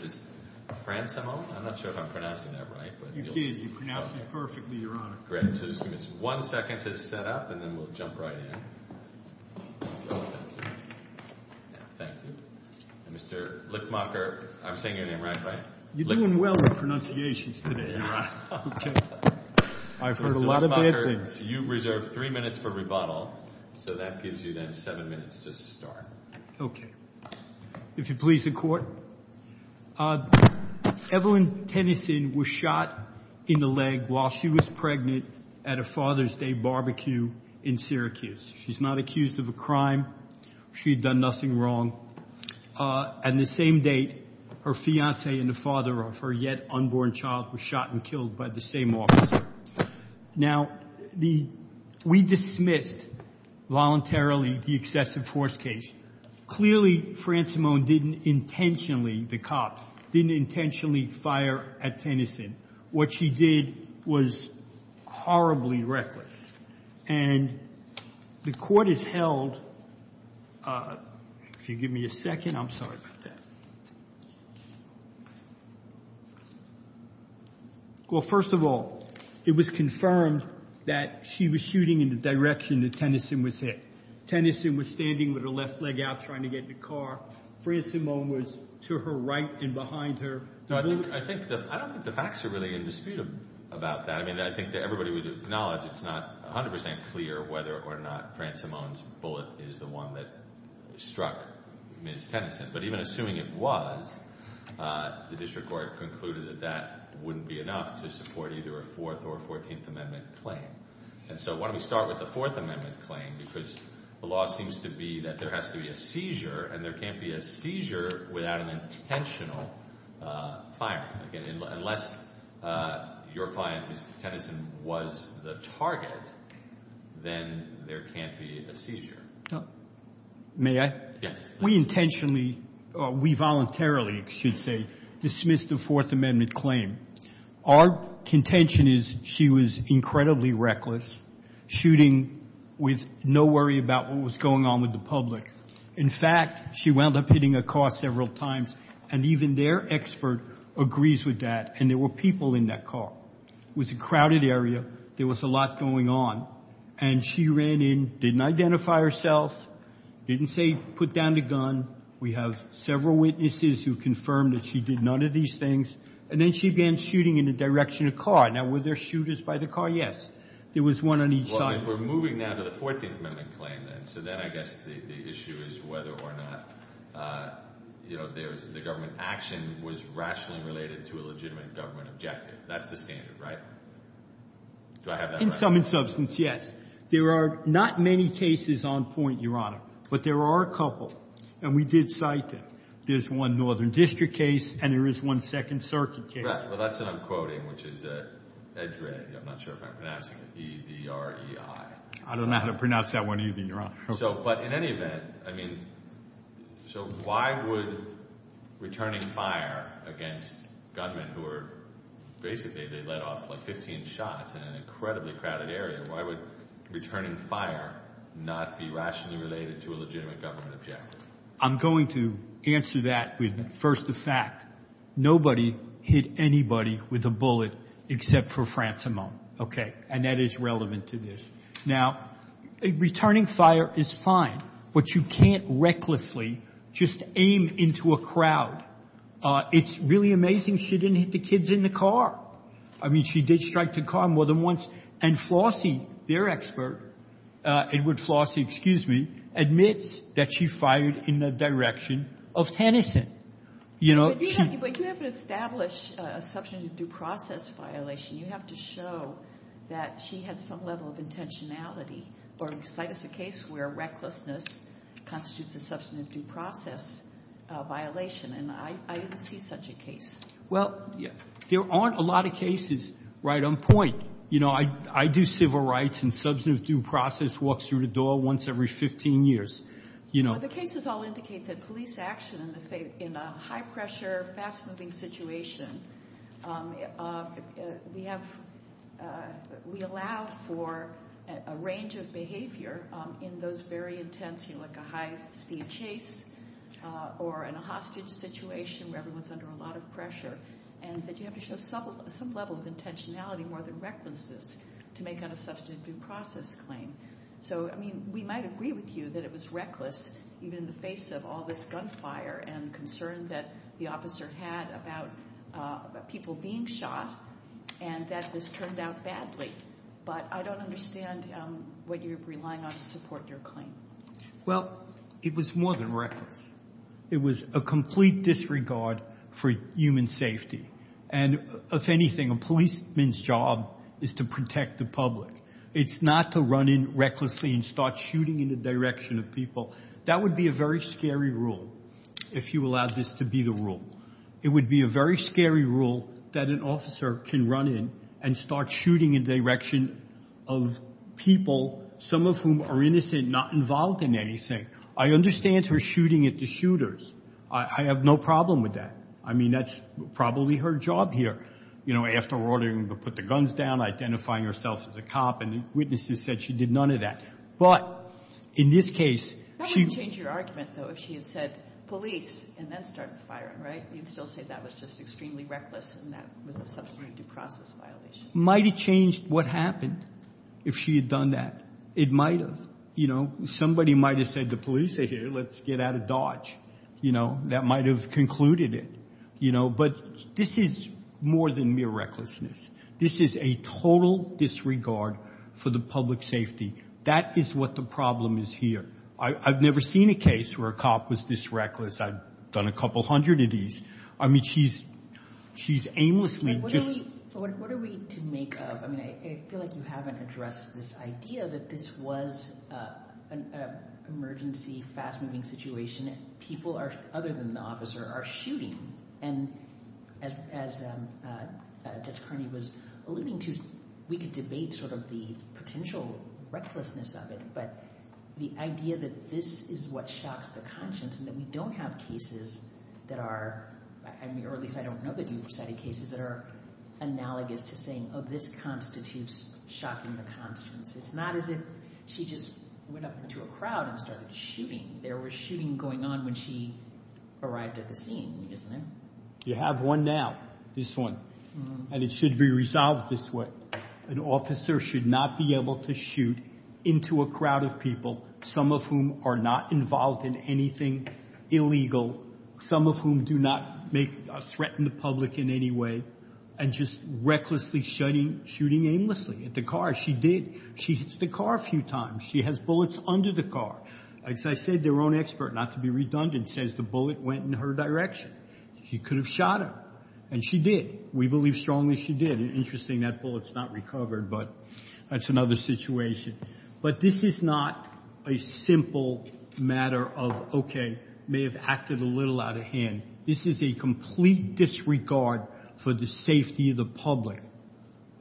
v. Fransimo. I'm not sure if I'm pronouncing that right. You did. You pronounced it perfectly, Your Honor. Great. So just give me one second to set up and then we'll jump right in. Thank you. Mr. Lickmacher, I'm saying your name right, right? You're doing well with pronunciations today, Your Honor. I've heard a lot of bad things. Mr. Lickmacher, you've reserved three minutes for rebuttal. So that gives you then seven minutes to start. Okay. If you please, the Court. Evelyn Tennyson was shot in the leg while she was pregnant at a Father's Day barbecue in Syracuse. She's not accused of a crime. She had done nothing wrong. At the same date, her fiancé and the father of her yet unborn child were shot and killed by the same officer. Now, we dismissed voluntarily the excessive force case. Clearly, Francimone didn't intentionally, the cop, didn't intentionally fire at Tennyson. What she did was horribly reckless. And the Court has held... If you give me a second, I'm sorry about that. Well, first of all, it was confirmed that she was shooting in the direction that Tennyson was hit. Tennyson was standing with her left leg out trying to get in the car. Francimone was to her right and behind her. I don't think the facts are really in dispute about that. I mean, I think that everybody would acknowledge it's not 100% clear whether or not Francimone's bullet is the one that struck Ms. Tennyson. But even assuming it was, the District Court concluded that that wouldn't be enough to support either a Fourth or a Fourteenth Amendment claim. And so why don't we start with the Fourth Amendment claim because the law seems to be that there has to be a seizure and there can't be a seizure without an intentional firing. Unless your client, Ms. Tennyson, was the target, then there can't be a seizure. May I? Yes. We intentionally, we voluntarily, I should say, dismissed the Fourth Amendment claim. Our contention is she was incredibly reckless, shooting with no worry about what was going on with the public. In fact, she wound up hitting a car several times and even their expert agrees with that and there were people in that car. It was a crowded area. There was a lot going on. And she ran in, didn't identify herself, didn't say put down the gun. We have several witnesses who confirmed that she did none of these things. And then she began shooting in the direction of the car. Now, were there shooters by the car? Yes. There was one on each side. Well, if we're moving now to the Fourteenth Amendment claim then, so then I guess the issue is whether or not, you know, the government action was rationally related to a legitimate government objective. That's the standard, right? Do I have that right? In sum and substance, yes. There are not many cases on point, Your Honor, but there are a couple and we did cite them. There's one Northern District case and there is one Second Circuit case. Well, that's what I'm quoting, which is EDRE. I'm not sure if I'm pronouncing it, E-D-R-E-I. I don't know how to pronounce that one either, Your Honor. But in any event, I mean, so why would returning fire against gunmen who were basically they let off like 15 shots in an incredibly crowded area, why would returning fire not be rationally related to a legitimate government objective? I'm going to answer that with first the fact. Nobody hit anybody with a bullet except for Frantz Amon, okay, and that is relevant to this. Now, returning fire is fine, but you can't recklessly just aim into a crowd. It's really amazing she didn't hit the kids in the car. I mean, she did strike the car more than once, and Flossie, their expert, Edward Flossie, excuse me, admits that she fired in the direction of Tennyson. But you haven't established a substantive due process violation. You have to show that she had some level of intentionality or cite us a case where recklessness constitutes a substantive due process violation, and I didn't see such a case. Well, there aren't a lot of cases right on point. You know, I do civil rights, and substantive due process walks through the door once every 15 years. The cases all indicate that police action in a high-pressure, fast-moving situation, we allow for a range of behavior in those very intense, you know, like a high-speed chase or in a hostage situation where everyone's under a lot of pressure, and that you have to show some level of intentionality more than recklessness to make on a substantive due process claim. So, I mean, we might agree with you that it was reckless, even in the face of all this gunfire and concern that the officer had about people being shot, and that this turned out badly, but I don't understand what you're relying on to support your claim. Well, it was more than reckless. It was a complete disregard for human safety, and if anything, a policeman's job is to protect the public. It's not to run in recklessly and start shooting in the direction of people. That would be a very scary rule, if you allow this to be the rule. It would be a very scary rule that an officer can run in and start shooting in the direction of people, some of whom are innocent, not involved in anything. I understand her shooting at the shooters. I have no problem with that. I mean, that's probably her job here. You know, after ordering them to put the guns down, identifying herself as a cop, and witnesses said she did none of that. But in this case, she— That wouldn't change your argument, though, if she had said police and then started firing, right? You'd still say that was just extremely reckless and that was a substantive due process violation. Might have changed what happened if she had done that. It might have. You know, somebody might have said, the police are here. Let's get out of Dodge. You know, that might have concluded it. You know, but this is more than mere recklessness. This is a total disregard for the public safety. That is what the problem is here. I've never seen a case where a cop was this reckless. I've done a couple hundred of these. I mean, she's aimlessly just— What are we to make of— I mean, I feel like you haven't addressed this idea that this was an emergency, fast-moving situation and people other than the officer are shooting. And as Judge Carney was alluding to, we could debate sort of the potential recklessness of it, but the idea that this is what shocks the conscience and that we don't have cases that are— or at least I don't know that you've cited cases that are analogous to saying, oh, this constitutes shocking the conscience. It's not as if she just went up into a crowd and started shooting. There was shooting going on when she arrived at the scene, isn't there? You have one now, this one, and it should be resolved this way. An officer should not be able to shoot into a crowd of people, some of whom are not involved in anything illegal, some of whom do not threaten the public in any way, and just recklessly shooting aimlessly at the car. She did. She hits the car a few times. She has bullets under the car. As I said, their own expert, not to be redundant, says the bullet went in her direction. She could have shot him, and she did. We believe strongly she did. Interesting that bullet's not recovered, but that's another situation. But this is not a simple matter of, okay, may have acted a little out of hand. This is a complete disregard for the safety of the public.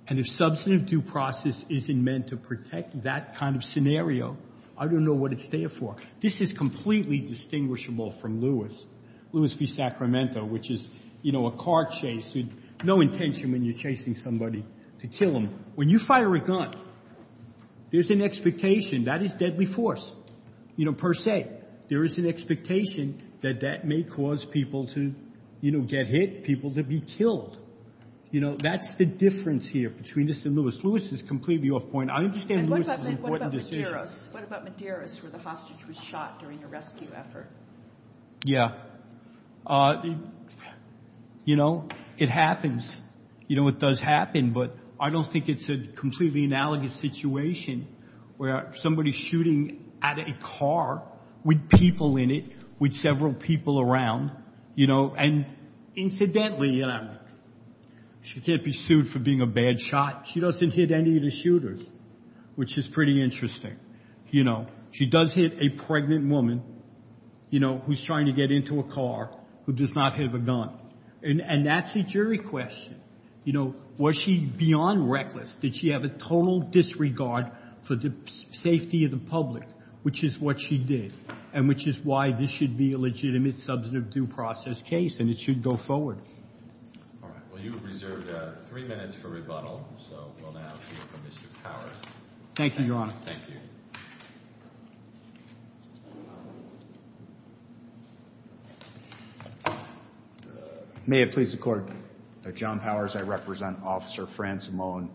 And if substantive due process isn't meant to protect that kind of scenario, I don't know what it's there for. This is completely distinguishable from Lewis, Lewis v. Sacramento, which is, you know, a car chase with no intention when you're chasing somebody to kill them. When you fire a gun, there's an expectation that is deadly force, you know, per se. There is an expectation that that may cause people to, you know, get hit, people to be killed. You know, that's the difference here between this and Lewis. Lewis is completely off point. I understand Lewis is an important decision. What about Medeiros where the hostage was shot during a rescue effort? Yeah. You know, it happens. You know, it does happen, but I don't think it's a completely analogous situation where somebody's shooting at a car with people in it, with several people around, you know. And incidentally, you know, she can't be sued for being a bad shot. She doesn't hit any of the shooters, which is pretty interesting. You know, she does hit a pregnant woman, you know, who's trying to get into a car, who does not have a gun, and that's a jury question. You know, was she beyond reckless? Did she have a total disregard for the safety of the public, which is what she did, and which is why this should be a legitimate substantive due process case, and it should go forward. All right. Well, you have reserved three minutes for rebuttal, so we'll now hear from Mr. Powers. Thank you, Your Honor. Thank you. May it please the Court. John Powers. I represent Officer Fran Simone.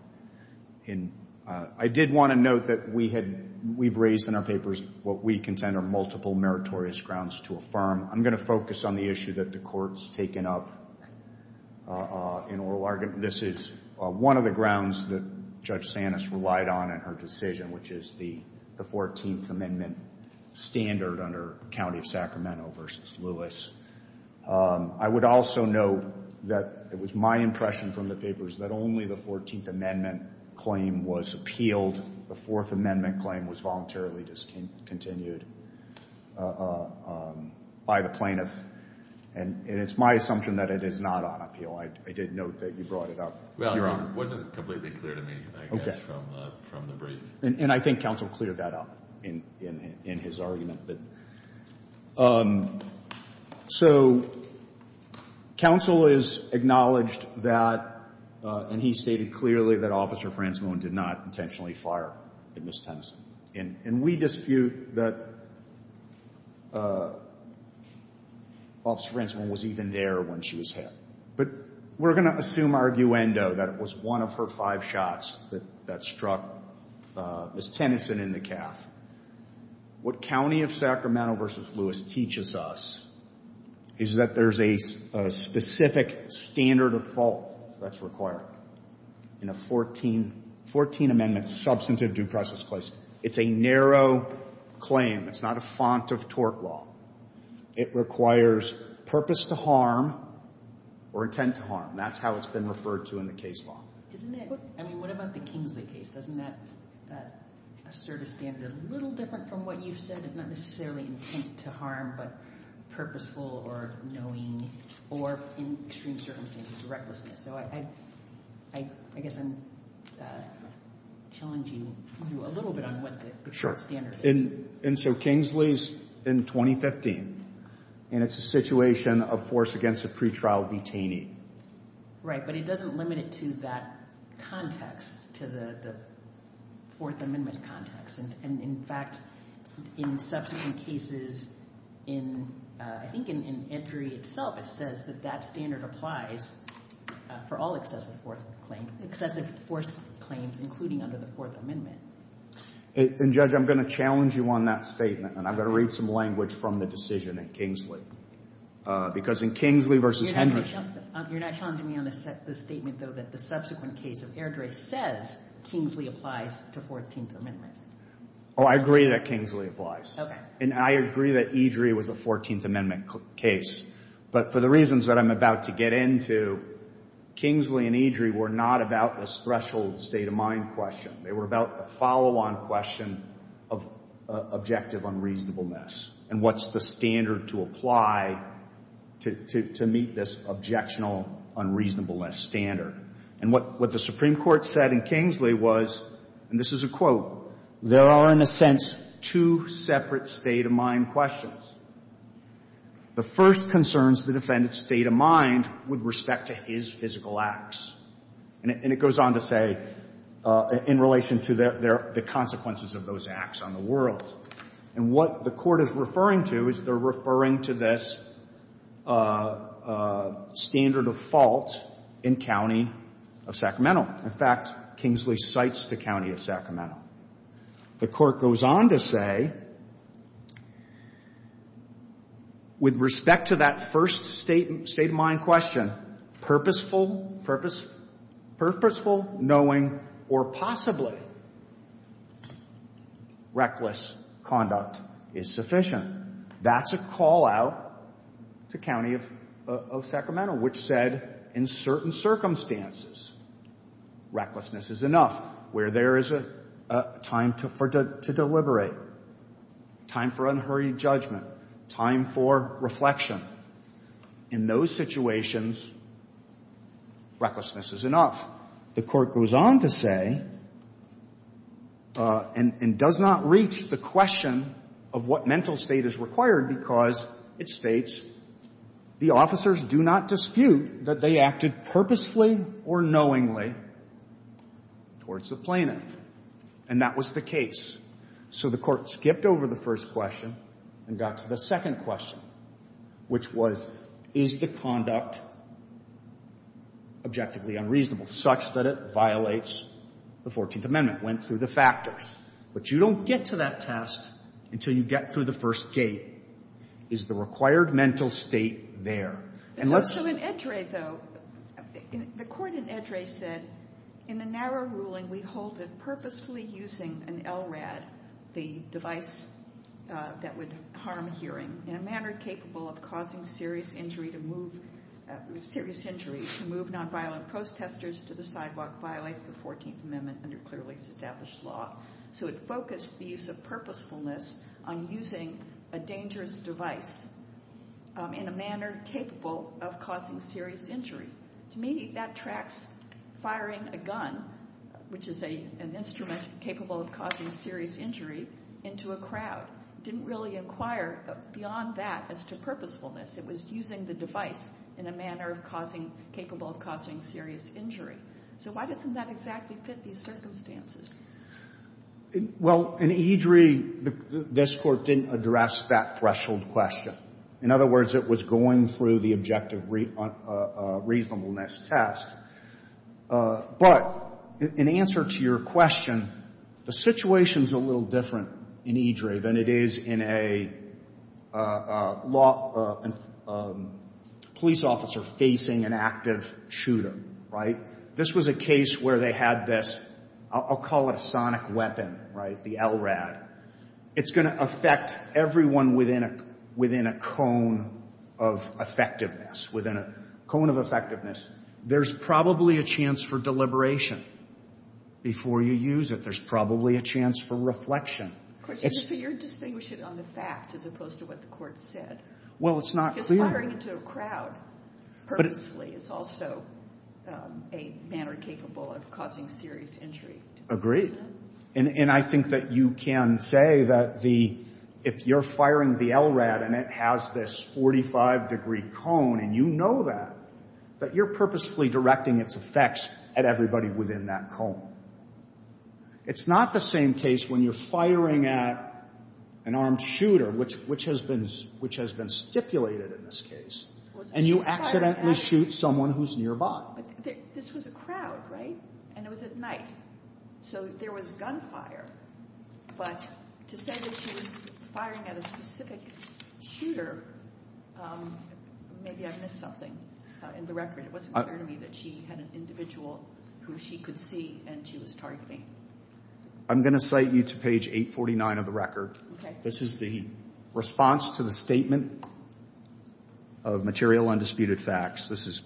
I did want to note that we've raised in our papers what we contend are multiple meritorious grounds to affirm. I'm going to focus on the issue that the Court's taken up in oral argument. This is one of the grounds that Judge Santis relied on in her decision, which is the 14th Amendment standard under County of Sacramento v. Lewis. I would also note that it was my impression from the papers that only the 14th Amendment claim was appealed. The Fourth Amendment claim was voluntarily discontinued by the plaintiff, and it's my assumption that it is not on appeal. I did note that you brought it up, Your Honor. Well, it wasn't completely clear to me, I guess, from the brief. Okay. And I think counsel cleared that up in his argument. So counsel has acknowledged that, and he stated clearly that Officer Fran Simone did not intentionally fire at Ms. Tennyson. And we dispute that Officer Fran Simone was even there when she was hit. But we're going to assume arguendo that it was one of her five shots that struck Ms. Tennyson in the calf. What County of Sacramento v. Lewis teaches us is that there's a specific standard of fault that's required in a 14th Amendment substantive due process case. It's a narrow claim. It's not a font of tort law. It requires purpose to harm or intent to harm. That's how it's been referred to in the case law. Isn't it? I mean, what about the Kingsley case? Doesn't that assert a standard a little different from what you've said? It's not necessarily intent to harm, but purposeful or knowing or, in extreme circumstances, recklessness. So I guess I'm challenging you a little bit on what the court standard is. And so Kingsley's in 2015, and it's a situation of force against a pretrial detainee. Right. But it doesn't limit it to that context, to the Fourth Amendment context. And, in fact, in subsequent cases, I think in entry itself, it says that that standard applies for all excessive force claims, including under the Fourth Amendment. And, Judge, I'm going to challenge you on that statement, and I'm going to read some language from the decision at Kingsley. Because in Kingsley v. Henry. You're not challenging me on the statement, though, that the subsequent case of Airdrie says Kingsley applies to Fourteenth Amendment. Oh, I agree that Kingsley applies. Okay. And I agree that Airdrie was a Fourteenth Amendment case. But for the reasons that I'm about to get into, Kingsley and Airdrie were not about a threshold state of mind question. They were about a follow-on question of objective unreasonableness and what's the standard to apply to meet this objectionable unreasonableness standard. And what the Supreme Court said in Kingsley was, and this is a quote, there are, in a sense, two separate state of mind questions. The first concerns the defendant's state of mind with respect to his physical acts. And it goes on to say in relation to the consequences of those acts on the world. And what the Court is referring to is they're referring to this standard of fault in County of Sacramento. In fact, Kingsley cites the County of Sacramento. The Court goes on to say, with respect to that first state of mind question, purposeful knowing or possibly reckless conduct is sufficient. That's a call-out to County of Sacramento, which said in certain circumstances, recklessness is enough. Where there is a time to deliberate, time for unhurried judgment, time for reflection. In those situations, recklessness is enough. The Court goes on to say, and does not reach the question of what mental state is required because it states, the officers do not dispute that they acted purposely or knowingly towards the plaintiff. And that was the case. So the Court skipped over the first question and got to the second question, which was, is the conduct objectively unreasonable such that it violates the 14th Amendment? Went through the factors. But you don't get to that test until you get through the first gate. Is the required mental state there? So in Eddrey, though, the Court in Eddrey said, in the narrow ruling, we hold that purposefully using an LRAD, the device that would harm hearing, in a manner capable of causing serious injury to move nonviolent protesters to the sidewalk, violates the 14th Amendment under clearly established law. So it focused the use of purposefulness on using a dangerous device in a manner capable of causing serious injury. To me, that tracks firing a gun, which is an instrument capable of causing serious injury, into a crowd. Didn't really inquire beyond that as to purposefulness. It was using the device in a manner capable of causing serious injury. So why doesn't that exactly fit these circumstances? Well, in Eddrey, this Court didn't address that threshold question. In other words, it was going through the objective reasonableness test. But in answer to your question, the situation is a little different in Eddrey than it is in a law — a police officer facing an active shooter. Right? This was a case where they had this — I'll call it a sonic weapon, right? The LRAD. It's going to affect everyone within a cone of effectiveness. Within a cone of effectiveness. There's probably a chance for deliberation before you use it. There's probably a chance for reflection. So you're distinguishing it on the facts as opposed to what the Court said. Well, it's not clear. Firing into a crowd purposefully is also a manner capable of causing serious injury. Agreed. And I think that you can say that if you're firing the LRAD and it has this 45-degree cone and you know that, that you're purposefully directing its effects at everybody within that cone. It's not the same case when you're firing at an armed shooter, which has been stipulated in this case, and you accidentally shoot someone who's nearby. But this was a crowd, right? And it was at night. So there was gunfire. But to say that she was firing at a specific shooter, maybe I missed something in the record. It wasn't clear to me that she had an individual who she could see and she was targeting. I'm going to cite you to page 849 of the record. Okay. This is the response to the statement of material undisputed facts. This is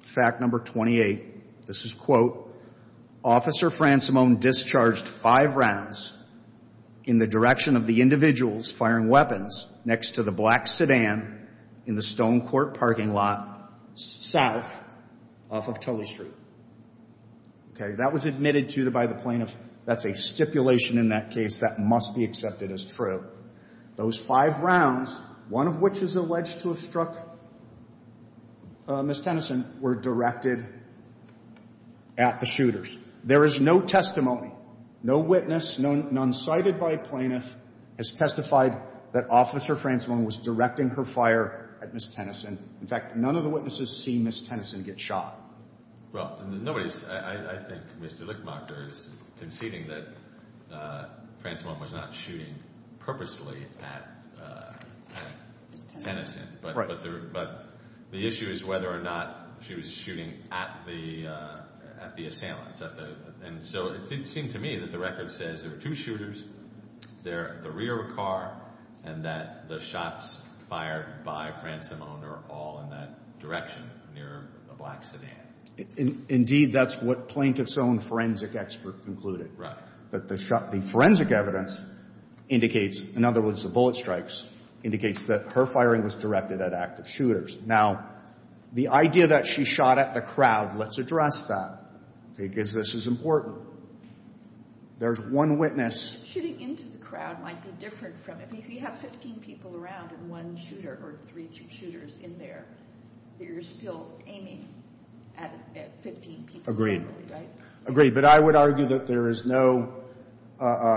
fact number 28. This is, quote, Officer Frantz-Simone discharged five rounds in the direction of the individuals firing weapons next to the black sedan in the Stonecourt parking lot south off of Tully Street. Okay. That was admitted to by the plaintiff. That's a stipulation in that case that must be accepted as true. Those five rounds, one of which is alleged to have struck Ms. Tennyson, were directed at the shooters. There is no testimony, no witness, none cited by a plaintiff, has testified that Officer Frantz-Simone was directing her fire at Ms. Tennyson. In fact, none of the witnesses see Ms. Tennyson get shot. Well, I think Mr. Lickmarker is conceding that Frantz-Simone was not shooting purposely at Tennyson. Right. But the issue is whether or not she was shooting at the assailants. And so it seemed to me that the record says there were two shooters. They're at the rear of a car and that the shots fired by Frantz-Simone are all in that direction near a black sedan. Indeed, that's what plaintiff's own forensic expert concluded. Right. But the forensic evidence indicates, in other words, the bullet strikes, indicates that her firing was directed at active shooters. Now, the idea that she shot at the crowd, let's address that because this is important. There's one witness. Shooting into the crowd might be different from it. If you have 15 people around and one shooter or three shooters in there, you're still aiming at 15 people. Agreed. Agreed. But I would argue that there is no,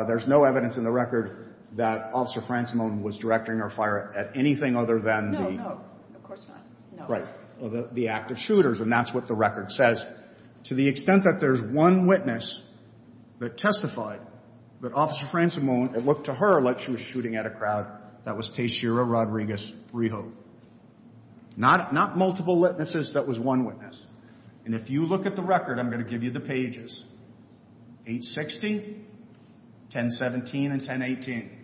there's no evidence in the record that Officer Frantz-Simone was directing her fire at anything other than the... No, no, of course not. Right. The active shooters. And that's what the record says. To the extent that there's one witness that testified that Officer Frantz-Simone, it looked to her like she was shooting at a crowd. That was Teixeira Rodriguez-Rijo. Not multiple witnesses. That was one witness. And if you look at the record, I'm going to give you the pages. 860, 1017, and 1018.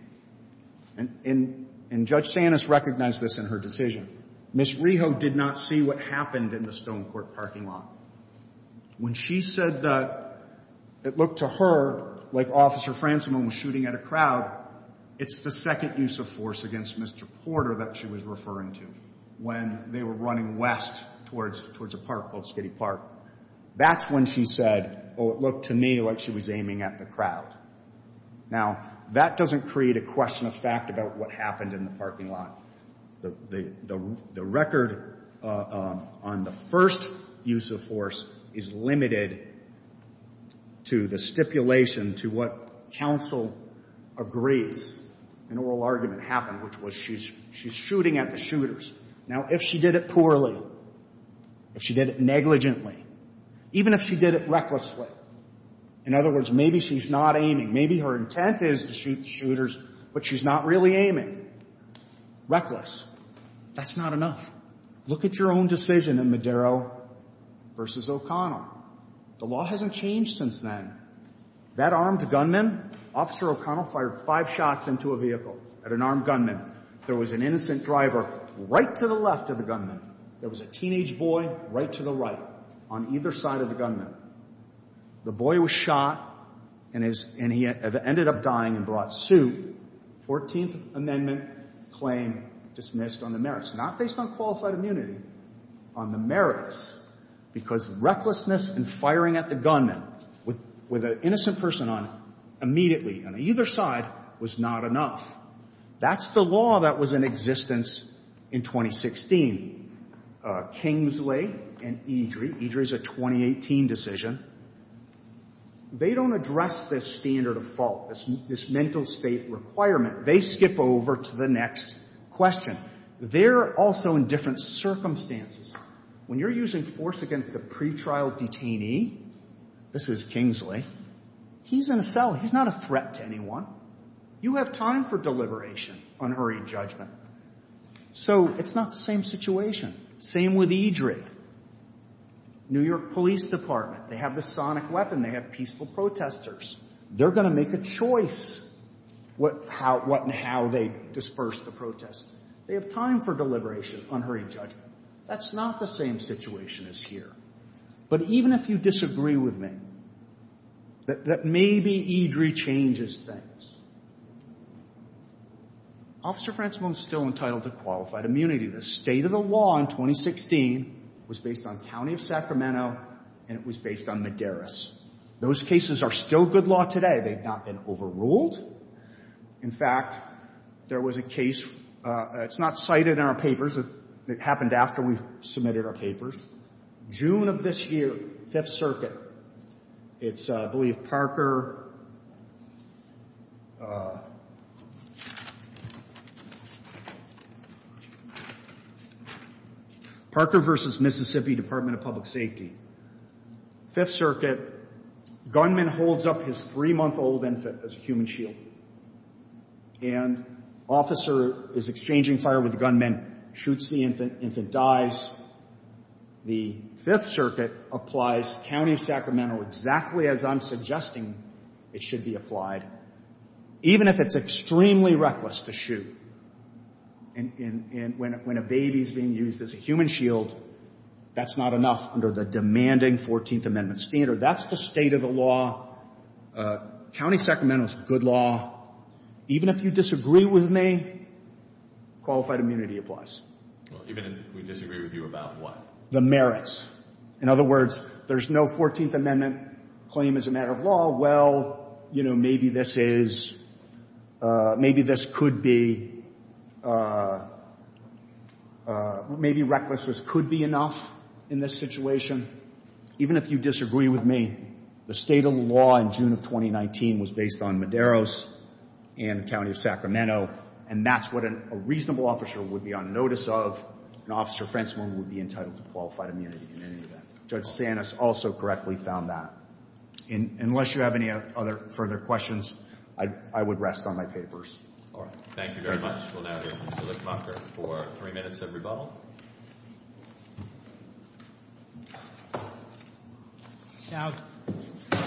And Judge Sanis recognized this in her decision. Ms. Rijo did not see what happened in the Stonecourt parking lot. When she said that it looked to her like Officer Frantz-Simone was shooting at a crowd, it's the second use of force against Mr. Porter that she was referring to when they were running west towards a park called Skiddy Park. That's when she said, oh, it looked to me like she was aiming at the crowd. Now, that doesn't create a question of fact about what happened in the parking lot. The record on the first use of force is limited to the stipulation to what counsel agrees, an oral argument happened, which was she's shooting at the shooters. Now, if she did it poorly, if she did it negligently, even if she did it recklessly, in other words, maybe she's not aiming. Maybe her intent is to shoot the shooters, but she's not really aiming. Reckless, that's not enough. Look at your own decision in Madero v. O'Connell. The law hasn't changed since then. That armed gunman, Officer O'Connell, fired five shots into a vehicle at an armed gunman. There was an innocent driver right to the left of the gunman. There was a teenage boy right to the right on either side of the gunman. The boy was shot, and he ended up dying and brought to suit. Fourteenth Amendment claim dismissed on the merits, not based on qualified immunity, on the merits, because recklessness and firing at the gunman with an innocent person on it immediately on either side was not enough. That's the law that was in existence in 2016. Kingsley and Eadry, Eadry's a 2018 decision, they don't address this standard of fault, this mental state requirement. They skip over to the next question. They're also in different circumstances. When you're using force against a pretrial detainee, this is Kingsley, he's in a cell. He's not a threat to anyone. You have time for deliberation, unhurried judgment. So it's not the same situation. Same with Eadry. New York Police Department, they have the sonic weapon. They have peaceful protesters. They're going to make a choice what and how they disperse the protest. They have time for deliberation, unhurried judgment. That's not the same situation as here. But even if you disagree with me, that maybe Eadry changes things. Officer Frantzmo is still entitled to qualified immunity. The state of the law in 2016 was based on County of Sacramento, and it was based on Madaris. Those cases are still good law today. They've not been overruled. In fact, there was a case. It's not cited in our papers. It happened after we submitted our papers. June of this year, Fifth Circuit, it's, I believe, Parker. Parker v. Mississippi Department of Public Safety. Fifth Circuit, gunman holds up his three-month-old infant as a human shield, and officer is exchanging fire with the gunman, shoots the infant, infant dies. The Fifth Circuit applies County of Sacramento exactly as I'm suggesting it should be applied, even if it's extremely reckless to shoot. And when a baby is being used as a human shield, that's not enough under the demanding 14th Amendment standard. That's the state of the law. County of Sacramento is good law. Even if you disagree with me, qualified immunity applies. Even if we disagree with you about what? The merits. In other words, there's no 14th Amendment claim as a matter of law. Well, you know, maybe this is, maybe this could be, maybe recklessness could be enough in this situation. Even if you disagree with me, the state of the law in June of 2019 was based on Medeiros and County of Sacramento, and that's what a reasonable officer would be on notice of, and Officer Frensman would be entitled to qualified immunity in any event. Judge Sanis also correctly found that. Unless you have any other further questions, I would rest on my papers. All right. Thank you very much. We'll now hear from Mr. Lippmacher for three minutes of rebuttal. Now,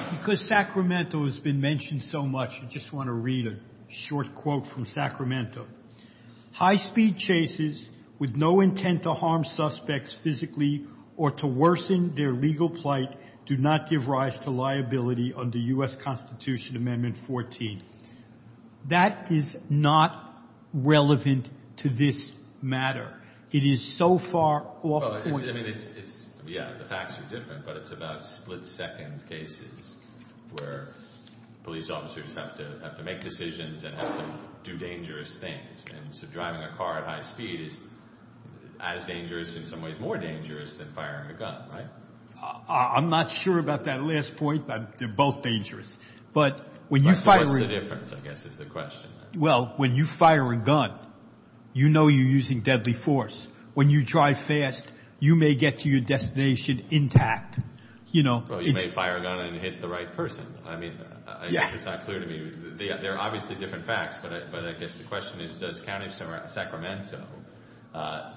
because Sacramento has been mentioned so much, I just want to read a short quote from Sacramento. High-speed chases with no intent to harm suspects physically or to worsen their legal plight do not give rise to liability under U.S. Constitution Amendment 14. That is not relevant to this matter. It is so far off point. Yeah, the facts are different, but it's about split-second cases where police officers have to make decisions and have to do dangerous things. And so driving a car at high speed is as dangerous, in some ways more dangerous, than firing a gun, right? I'm not sure about that last point, but they're both dangerous. But what's the difference, I guess, is the question. Well, when you fire a gun, you know you're using deadly force. When you drive fast, you may get to your destination intact. Well, you may fire a gun and hit the right person. I mean, it's not clear to me. They're obviously different facts, but I guess the question is, does County of Sacramento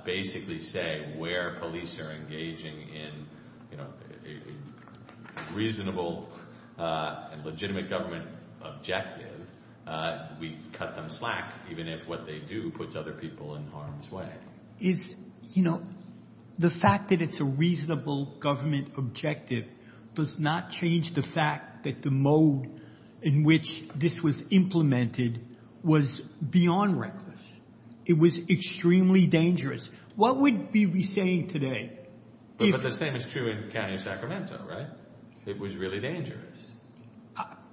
basically say where police are engaging in a reasonable and legitimate government objective, we cut them slack even if what they do puts other people in harm's way? The fact that it's a reasonable government objective does not change the fact that the mode in which this was implemented was beyond reckless. It was extremely dangerous. What would we be saying today? But the same is true in County of Sacramento, right? It was really dangerous.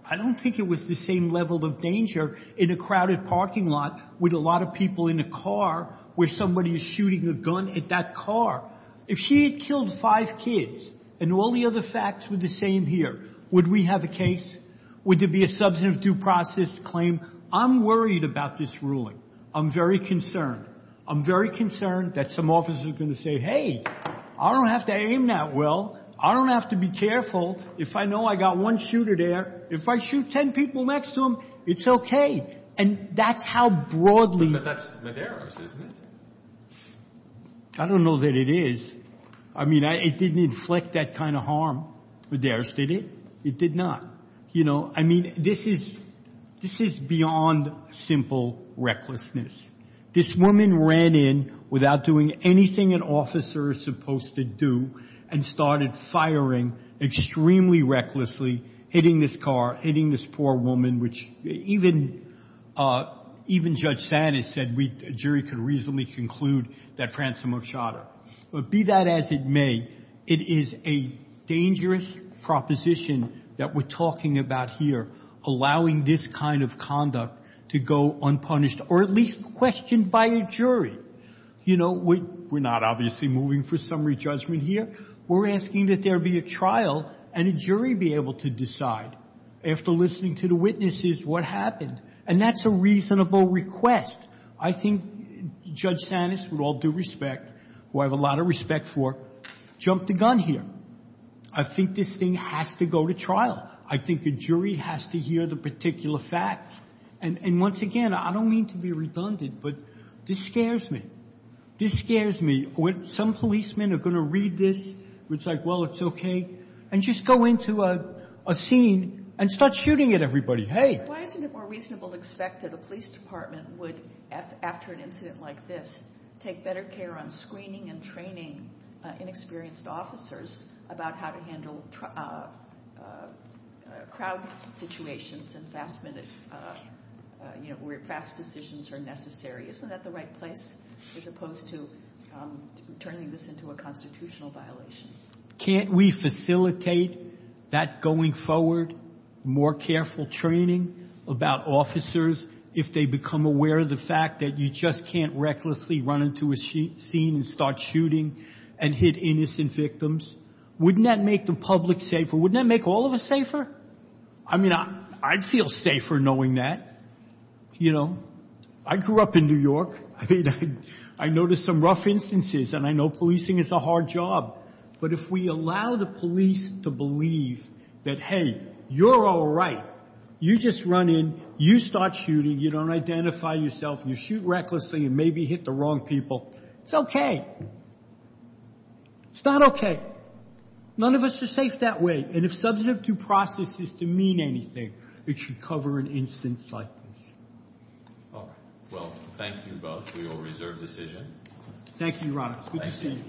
I don't think it was the same level of danger in a crowded parking lot with a lot of people in a car where somebody is shooting a gun at that car. If she had killed five kids and all the other facts were the same here, would we have a case? Would there be a substantive due process claim? I'm worried about this ruling. I'm very concerned. I'm very concerned that some officers are going to say, hey, I don't have to aim that well. I don't have to be careful. If I know I got one shooter there, if I shoot ten people next to him, it's okay. And that's how broadly— But that's Medeiros, isn't it? I don't know that it is. I mean, it didn't inflict that kind of harm. Medeiros did it. It did not. You know, I mean, this is beyond simple recklessness. This woman ran in without doing anything an officer is supposed to do and started firing extremely recklessly, hitting this car, hitting this poor woman, which even Judge Sanis said a jury could reasonably conclude that Frantzimo shot her. But be that as it may, it is a dangerous proposition that we're talking about here, allowing this kind of conduct to go unpunished or at least questioned by a jury. You know, we're not obviously moving for summary judgment here. We're asking that there be a trial and a jury be able to decide, after listening to the witnesses, what happened. And that's a reasonable request. I think Judge Sanis, with all due respect, who I have a lot of respect for, jumped the gun here. I think this thing has to go to trial. I think a jury has to hear the particular facts. And once again, I don't mean to be redundant, but this scares me. This scares me. Some policemen are going to read this. It's like, well, it's okay. And just go into a scene and start shooting at everybody. Hey. Why isn't it more reasonable to expect that a police department would, after an incident like this, take better care on screening and training inexperienced officers about how to handle crowd situations and fast decisions are necessary? Isn't that the right place as opposed to turning this into a constitutional violation? Can't we facilitate that going forward, more careful training about officers if they become aware of the fact that you just can't recklessly run into a scene and start shooting and hit innocent victims? Wouldn't that make the public safer? Wouldn't that make all of us safer? I mean, I'd feel safer knowing that. You know, I grew up in New York. I noticed some rough instances, and I know policing is a hard job. But if we allow the police to believe that, hey, you're all right. You just run in. You start shooting. You don't identify yourself. You shoot recklessly and maybe hit the wrong people. It's okay. It's not okay. None of us are safe that way. And if substantive due process is to mean anything, it should cover an instance like this. All right. Well, thank you both. We will reserve decision. Thank you, Your Honor. Good to see you.